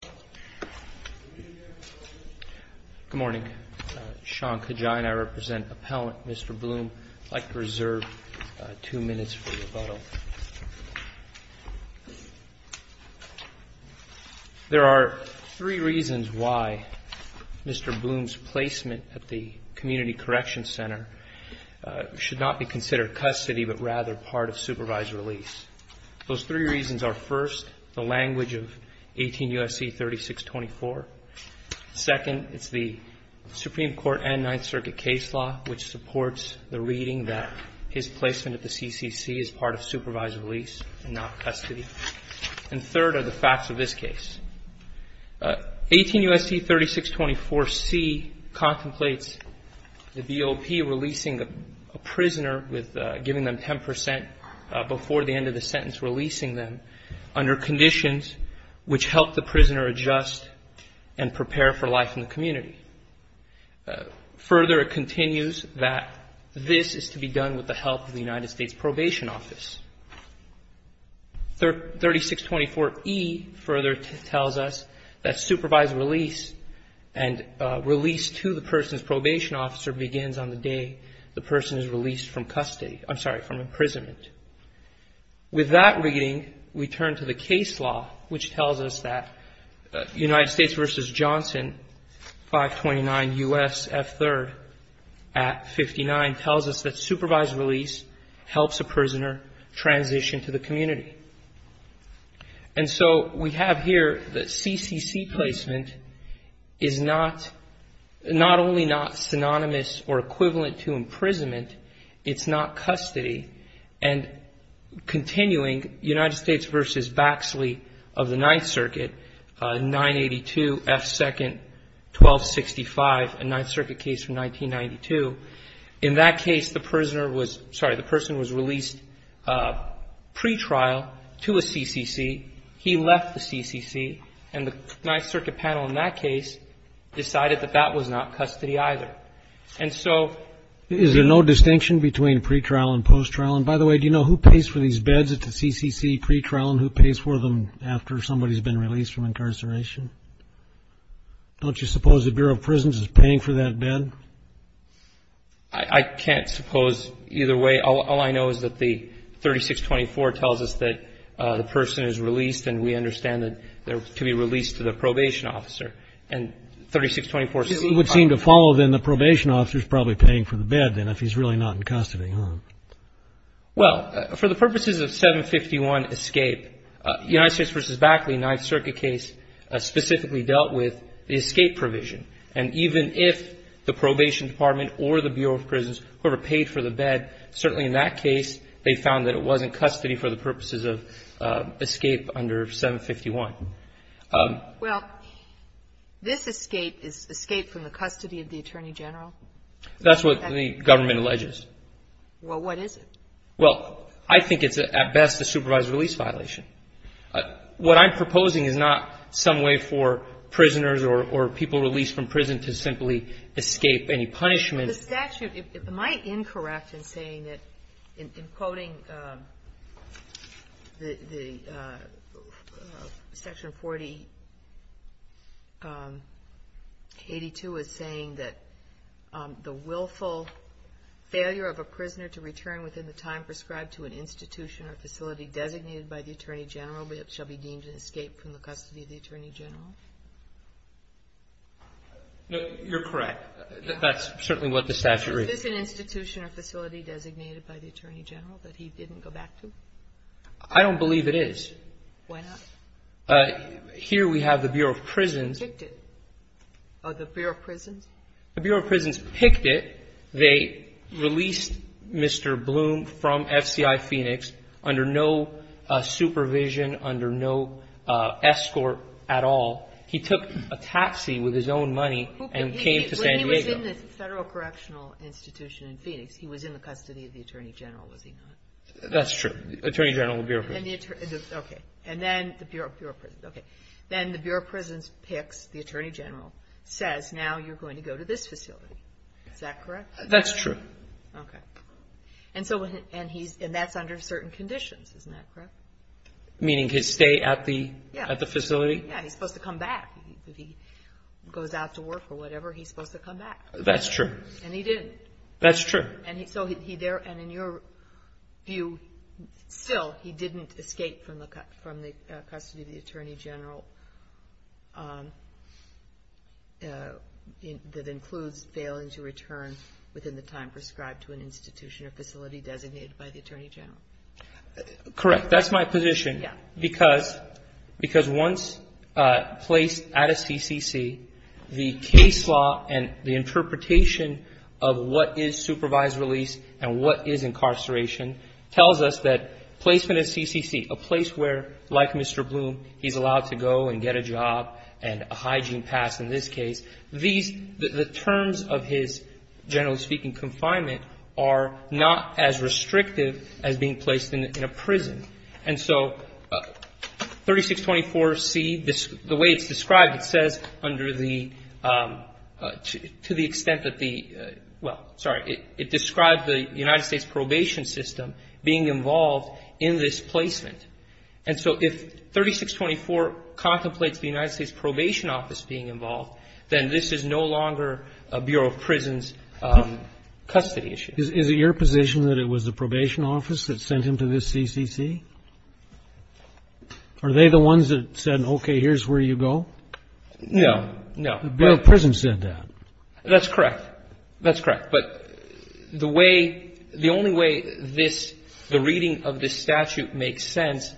There are three reasons why Mr. Bloom's placement at the Community Correction Center should not be considered custody but rather part of supervised release. Those three reasons are, first, the language of 18 U.S.C. 3624, second, it's the Supreme Court and Ninth Circuit case law which supports the reading that his placement at the CCC is part of supervised release and not custody, and third are the facts of this case. 18 U.S.C. 3624C contemplates the BOP releasing a prisoner with giving them 10 percent before the end of the sentence releasing them under conditions which help the prisoner adjust and prepare for life in the community. Further, it continues that this is to be done with the help of the United States Probation Office. 3624E further tells us that supervised release and release to the person's probation officer begins on the day the person is released from custody, I'm sorry, from imprisonment. With that reading, we turn to the case law which tells us that United States v. Johnson 529 U.S.F. 3rd Act 59 tells us that supervised release helps a prisoner transition to the community. And so we have here that CCC placement is not, not only not synonymous or equivalent to imprisonment, it's not custody, and continuing United States v. Baxley of the Ninth Circuit, 982F 2nd 1265, a Ninth Circuit case from 1992. In that case, the prisoner was, sorry, the person was released pretrial to a CCC, he left the CCC, and the Ninth Circuit panel in that case decided that that was not custody either. And so... Is there no distinction between pretrial and posttrial? And by the way, do you know who pays for these beds at the CCC pretrial and who pays for them after somebody's been released from incarceration? Don't you suppose the Bureau of Prisons is paying for that bed? I can't suppose either way. All I know is that the 3624 tells us that the person is released, and we understand that they're to be released to the probation officer. And 3624C... It would seem to follow, then, the probation officer's probably paying for the bed, then, if he's really not in custody, huh? Well, for the purposes of 751 escape, United States v. Baxley, Ninth Circuit case, specifically dealt with the escape provision. And even if the probation department or the Bureau of Prisons were to pay for the bed, certainly in that case, they found that it wasn't custody for the purposes of escape under 751. Well, this escape is escape from the custody of the Attorney General? That's what the government alleges. Well, what is it? Well, I think it's, at best, a supervised release violation. What I'm proposing is not some way for prisoners or people released from prison to simply escape any punishment. The statute, am I incorrect in saying that, in quoting the Section 4082, is saying that the willful failure of a prisoner to return within the time prescribed to an institution or facility designated by the Attorney General shall be deemed an escape from the custody of the Attorney General? You're correct. That's certainly what the statute reads. Is this an institution or facility designated by the Attorney General that he didn't go back to? I don't believe it is. Why not? Here we have the Bureau of Prisons. Who picked it? The Bureau of Prisons? The Bureau of Prisons picked it. They released Mr. Bloom from FCI Phoenix under no supervision, under no escort at all. He took a taxi with his own money and came to San Diego. When he was in the Federal Correctional Institution in Phoenix, he was in the custody of the Attorney General, was he not? That's true. The Attorney General of the Bureau of Prisons. Okay. And then the Bureau of Prisons, okay. Then the Bureau of Prisons picks, the Attorney General says, now you're going to go to this facility. Is that correct? That's true. Okay. And that's under certain conditions, isn't that correct? Meaning his stay at the facility? Yeah, he's supposed to come back. If he goes out to work or whatever, he's supposed to come back. That's true. And he didn't. That's true. And so he there, and in your view, still he didn't escape from the custody of the Attorney General that includes failing to return within the time prescribed to an institution or facility designated by the Attorney General. Correct. That's my position. Yeah. Because once placed at a CCC, the case law and the interpretation of what is supervised release and what is incarceration tells us that placement at CCC, a place where, like Mr. Bloom, he's allowed to go and get a job and a hygiene pass in this case, these, the terms of his, generally speaking, confinement are not as restrictive as being placed in a prison. And so 3624C, the way it's described, it says under the, to the extent that the, well, sorry, it describes the United States probation system being involved in this placement. And so if 3624 contemplates the United States Probation Office being involved, then this is no longer a Bureau of Prisons custody issue. Is it your position that it was the Probation Office that sent him to this CCC? Are they the ones that said, okay, here's where you go? No. No. The Bureau of Prisons said that. That's correct. That's correct. But the way, the only way this, the reading of this statute makes sense,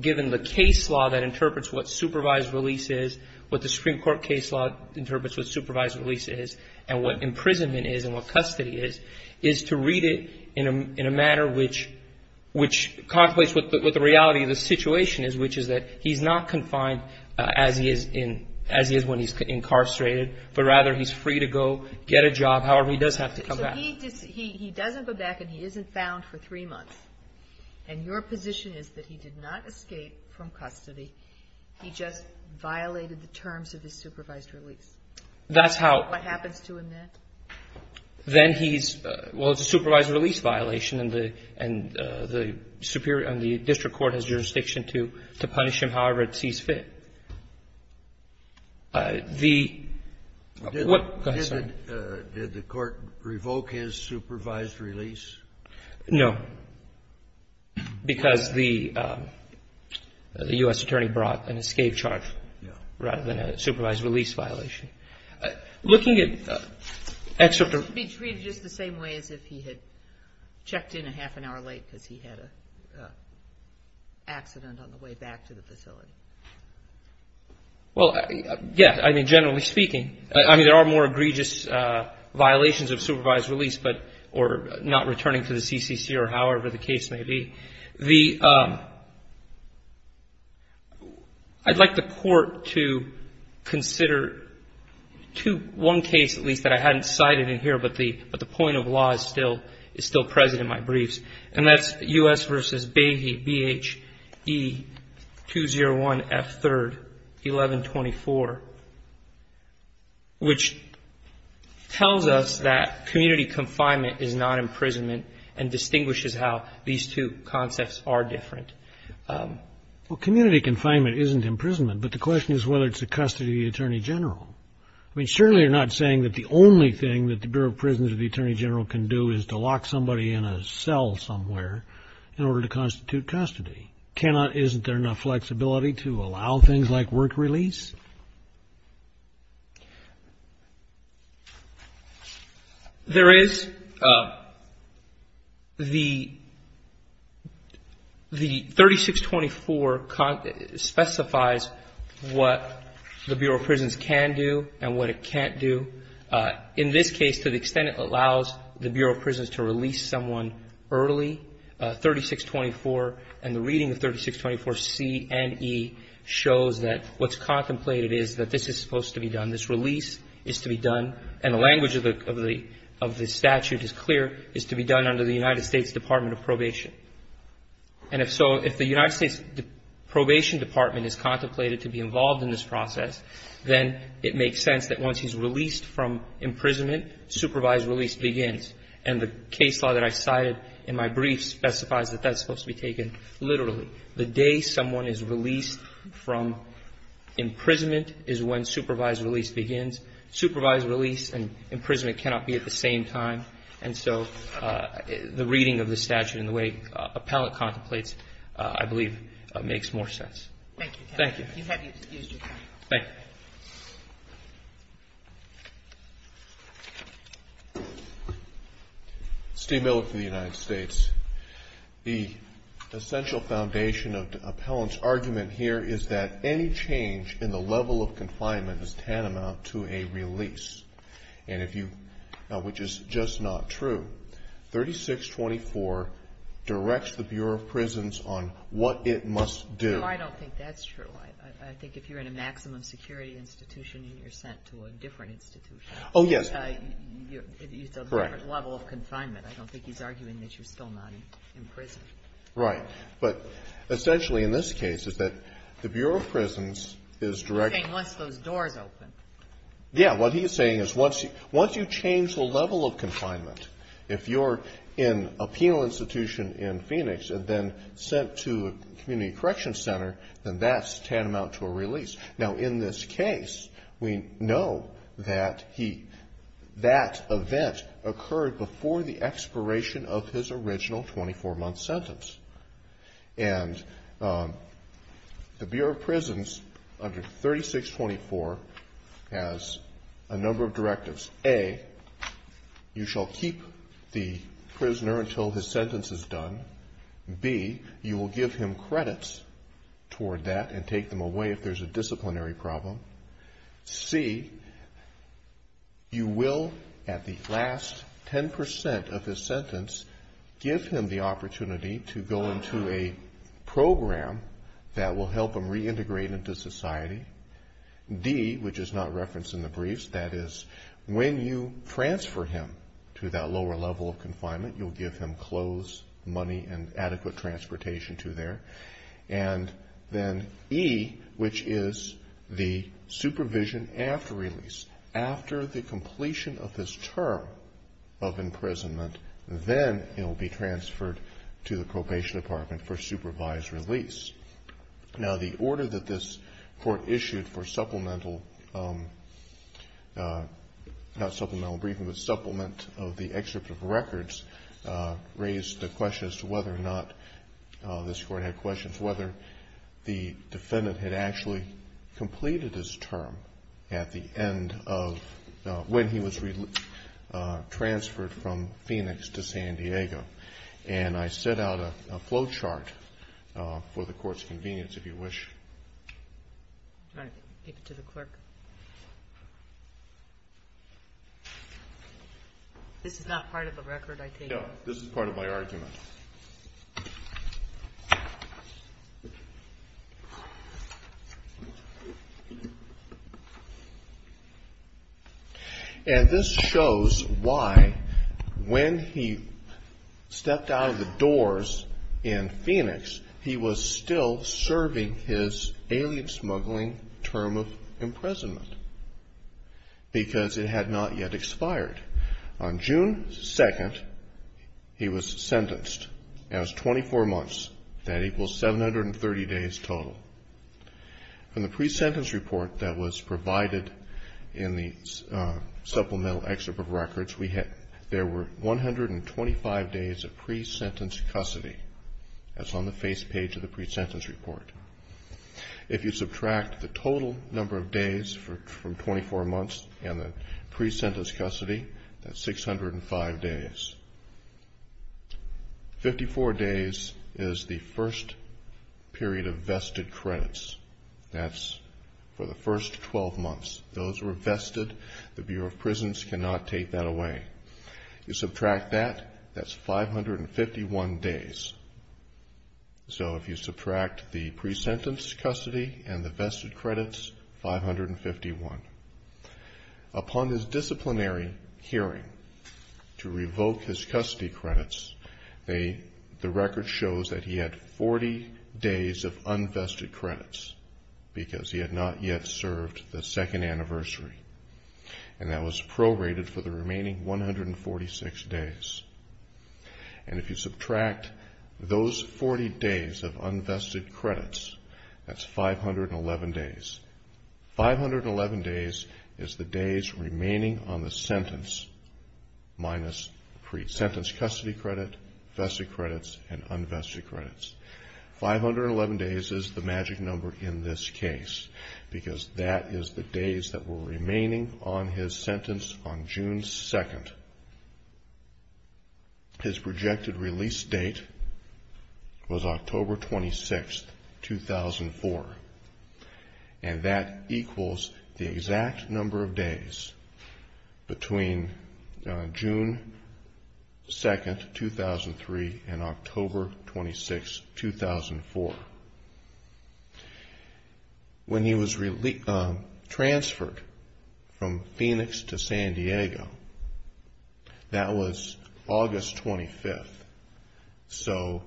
given the case law that interprets what supervised release is, what the Supreme Court case law interprets what supervised release is, and what imprisonment is and what custody is, is to read it in a manner which contemplates what the reality of the situation is, which is that he's not confined as he is in, as he is when he's incarcerated, but rather he's free to go get a job however he does have to come back. So he doesn't go back and he isn't found for three months. And your position is that he did not escape from custody. He just violated the terms of his supervised release. That's how. What happens to him then? Then he's, well, it's a supervised release violation, and the district court has jurisdiction to punish him however it sees fit. The what? Go ahead, sir. Did the court revoke his supervised release? No. Because the U.S. attorney brought an escape charge rather than a supervised release violation. Looking at excerpt of. To be treated just the same way as if he had checked in a half an hour late because he had an accident on the way back to the facility. Well, yes. I mean, generally speaking. I mean, there are more egregious violations of supervised release, but or not returning to the CCC or however the case may be. I'd like the court to consider one case at least that I hadn't cited in here, but the point of law is still present in my briefs, and that's U.S. versus Behe, B-H-E-2-0-1-F-3-11-24, which tells us that community confinement is not imprisonment and distinguishes how these two concepts are different. Well, community confinement isn't imprisonment, but the question is whether it's a custody of the attorney general. I mean, surely you're not saying that the only thing that the Bureau of Prisons or the attorney general can do is to lock somebody in a cell somewhere in order to constitute custody. Isn't there enough flexibility to allow things like work release? There is. The 3624 specifies what the Bureau of Prisons can do and what it can't do. In this case, to the extent it allows the Bureau of Prisons to release someone early, 3624, and the reading of 3624C and E shows that what's contemplated is that this is supposed to be done. This release is to be done, and the language of the statute is clear, is to be done under the United States Department of Probation. And if so, if the United States Probation Department is contemplated to be involved in this process, then it makes sense that once he's released from imprisonment, supervised release begins. And the case law that I cited in my brief specifies that that's supposed to be taken literally. The day someone is released from imprisonment is when supervised release begins. Supervised release and imprisonment cannot be at the same time. And so the reading of the statute and the way appellate contemplates, Thank you. Thank you. Thank you. Steve Miller for the United States. The essential foundation of the appellant's argument here is that any change in the level of confinement is tantamount to a release. And if you, which is just not true, 3624 directs the Bureau of Prisons on what it must do. I don't think that's true. I think if you're in a maximum security institution and you're sent to a different institution. Oh, yes. Correct. It's a different level of confinement. I don't think he's arguing that you're still not in prison. Right. But essentially in this case is that the Bureau of Prisons is directing He's saying once those doors open. Yeah. What he's saying is once you change the level of confinement, if you're in a penal institution in Phoenix and then sent to a community correction center, then that's tantamount to a release. Now in this case, we know that he, that event occurred before the expiration of his original 24 month sentence. And the Bureau of Prisons under 3624 has a number of directives. A, you shall keep the prisoner until his sentence is done. B, you will give him credits toward that and take them away if there's a disciplinary problem. C, you will at the last 10% of his sentence, give him the opportunity to go into a program that will help him reintegrate into society. D, which is not referenced in the briefs, that is when you transfer him to that lower level of confinement, you'll give him clothes, money, and adequate transportation to there. And then E, which is the supervision after release. After the completion of this term of imprisonment, then it will be transferred to the probation department for supervised release. Now the order that this court issued for supplemental, not supplemental briefing, but supplement of the excerpt of records raised the question as to whether or not, this court had questions, whether the defendant had actually completed his term at the end of, when he was transferred from Phoenix to San Diego. And I set out a flow chart for the court's convenience, if you wish. All right, give it to the clerk. This is not part of the record, I take it? No, this is part of my argument. And this shows why when he stepped out of the doors in Phoenix, he was still serving his alien smuggling term of imprisonment. Because it had not yet expired. On June 2nd, he was sentenced. That was 24 months. That equals 730 days total. From the pre-sentence report that was provided in the supplemental excerpt of records, there were 125 days of pre-sentence custody. That's on the face page of the pre-sentence report. If you subtract the total number of days from 24 months and the pre-sentence custody, that's 605 days. Fifty-four days is the first period of vested credits. That's for the first 12 months. Those were vested. The Bureau of Prisons cannot take that away. You subtract that, that's 551 days. So if you subtract the pre-sentence custody and the vested credits, 551. Upon his disciplinary hearing to revoke his custody credits, the record shows that he had 40 days of unvested credits because he had not yet served the second anniversary. And that was prorated for the remaining 146 days. And if you subtract those 40 days of unvested credits, that's 511 days. 511 days is the days remaining on the sentence minus pre-sentence custody credit, vested credits, and unvested credits. 511 days is the magic number in this case because that is the days that were remaining on his sentence on June 2nd. His projected release date was October 26th, 2004. And that equals the exact number of days between June 2nd, 2003 and October 26th, 2004. When he was transferred from Phoenix to San Diego, that was August 25th. So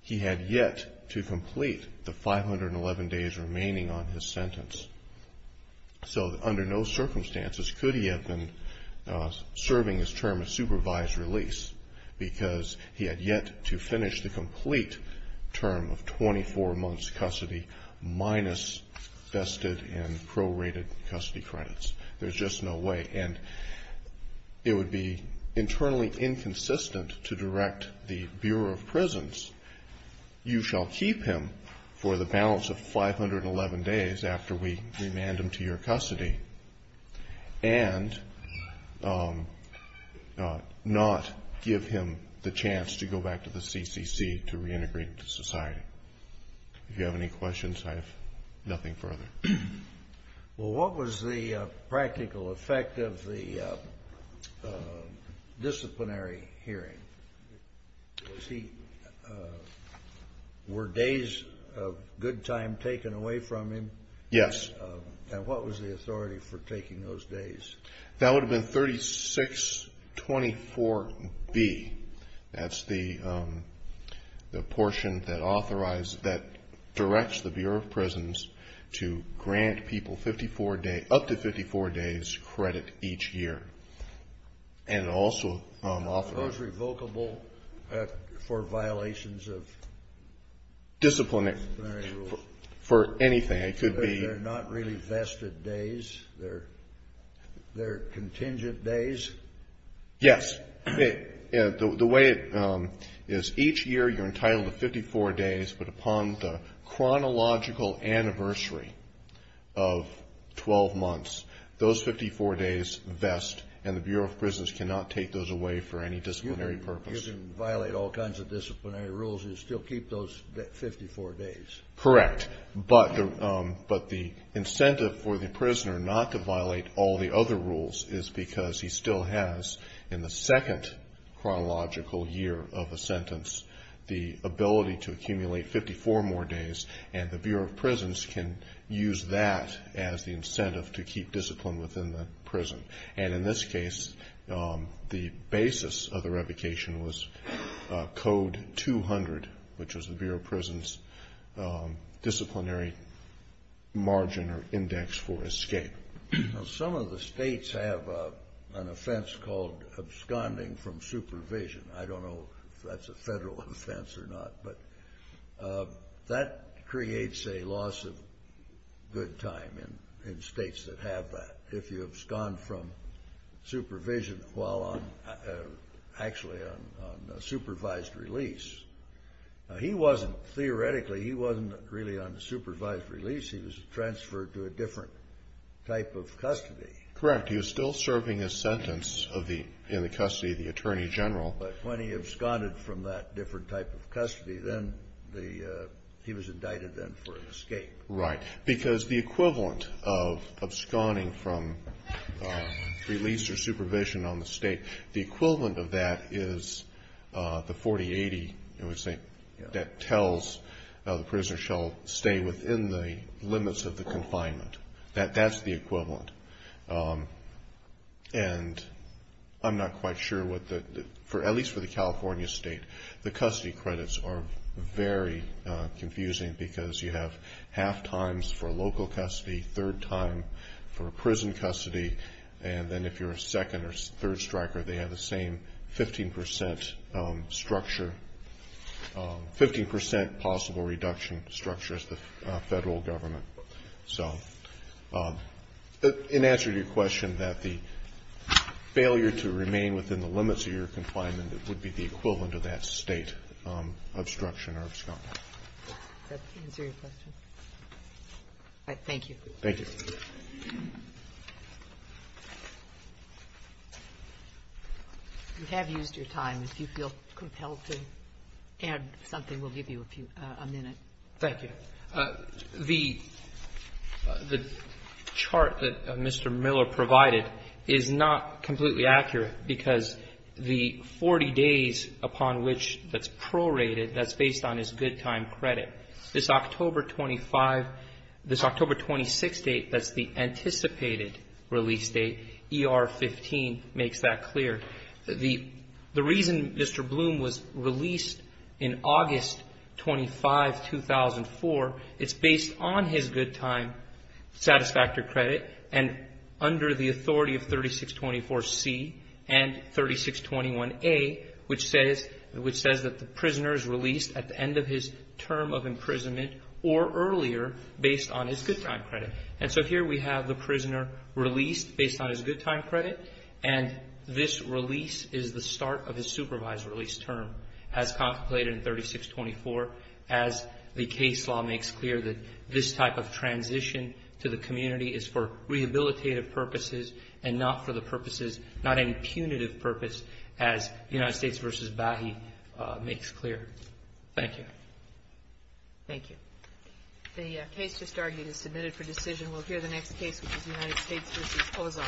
he had yet to complete the 511 days remaining on his sentence. So under no circumstances could he have been serving his term of supervised release because he had yet to finish the complete term of 24 months custody minus vested and prorated custody credits. There's just no way. And it would be internally inconsistent to direct the Bureau of Prisons, you shall keep him for the balance of 511 days after we remand him to your custody and not give him the chance to go back to the CCC to reintegrate into society. If you have any questions, I have nothing further. Well, what was the practical effect of the disciplinary hearing? Were days of good time taken away from him? Yes. And what was the authority for taking those days? That would have been 3624B. That's the portion that directs the Bureau of Prisons to grant people up to 54 days credit each year. And also authorize revocable for violations of disciplinary rules. For anything. They're not really vested days. They're contingent days. Yes. The way it is, each year you're entitled to 54 days, but upon the chronological anniversary of 12 months, those 54 days vest, and the Bureau of Prisons cannot take those away for any disciplinary purpose. You can violate all kinds of disciplinary rules and still keep those 54 days. Correct. But the incentive for the prisoner not to violate all the other rules is because he still has, in the second chronological year of a sentence, the ability to accumulate 54 more days, and the Bureau of Prisons can use that as the incentive to keep discipline within the prison. And in this case, the basis of the revocation was Code 200, which was the Bureau of Prisons' disciplinary margin or index for escape. Some of the states have an offense called absconding from supervision. I don't know if that's a federal offense or not, but that creates a loss of good time in states that have that. If you abscond from supervision while actually on supervised release, theoretically he wasn't really on supervised release. He was transferred to a different type of custody. Correct. He was still serving his sentence in the custody of the attorney general. But when he absconded from that different type of custody, he was indicted then for escape. Right. Because the equivalent of absconding from release or supervision on the state, the equivalent of that is the 4080, I would say, that tells the prisoner shall stay within the limits of the confinement. That's the equivalent. And I'm not quite sure what the – at least for the California state, the custody credits are very confusing because you have half times for a local custody, third time for a prison custody, and then if you're a second or third striker they have the same 15% structure, 15% possible reduction structure as the federal government. So in answer to your question that the failure to remain within the limits of your confinement would be the equivalent of that State obstruction or abscond. Does that answer your question? All right. Thank you. Thank you. You have used your time. If you feel compelled to add something, we'll give you a minute. Thank you. The chart that Mr. Miller provided is not completely accurate because the 4080 upon which that's prorated, that's based on his good time credit. This October 25 – this October 26 date, that's the anticipated release date. ER 15 makes that clear. The reason Mr. Bloom was released in August 25, 2004, it's based on his good time satisfactory credit and under the authority of 3624C and 3621A, which says that the prisoner is released at the end of his term of imprisonment or earlier based on his good time credit. And so here we have the prisoner released based on his good time credit, and this release is the start of his supervised release term as contemplated in 3624 as the case law makes clear that this type of transition to the community is for rehabilitative purposes and not for the purposes, not impunitive purpose as United States v. Bahi makes clear. Thank you. Thank you. The case just argued is submitted for decision. We'll hear the next case, which is United States v. Oza.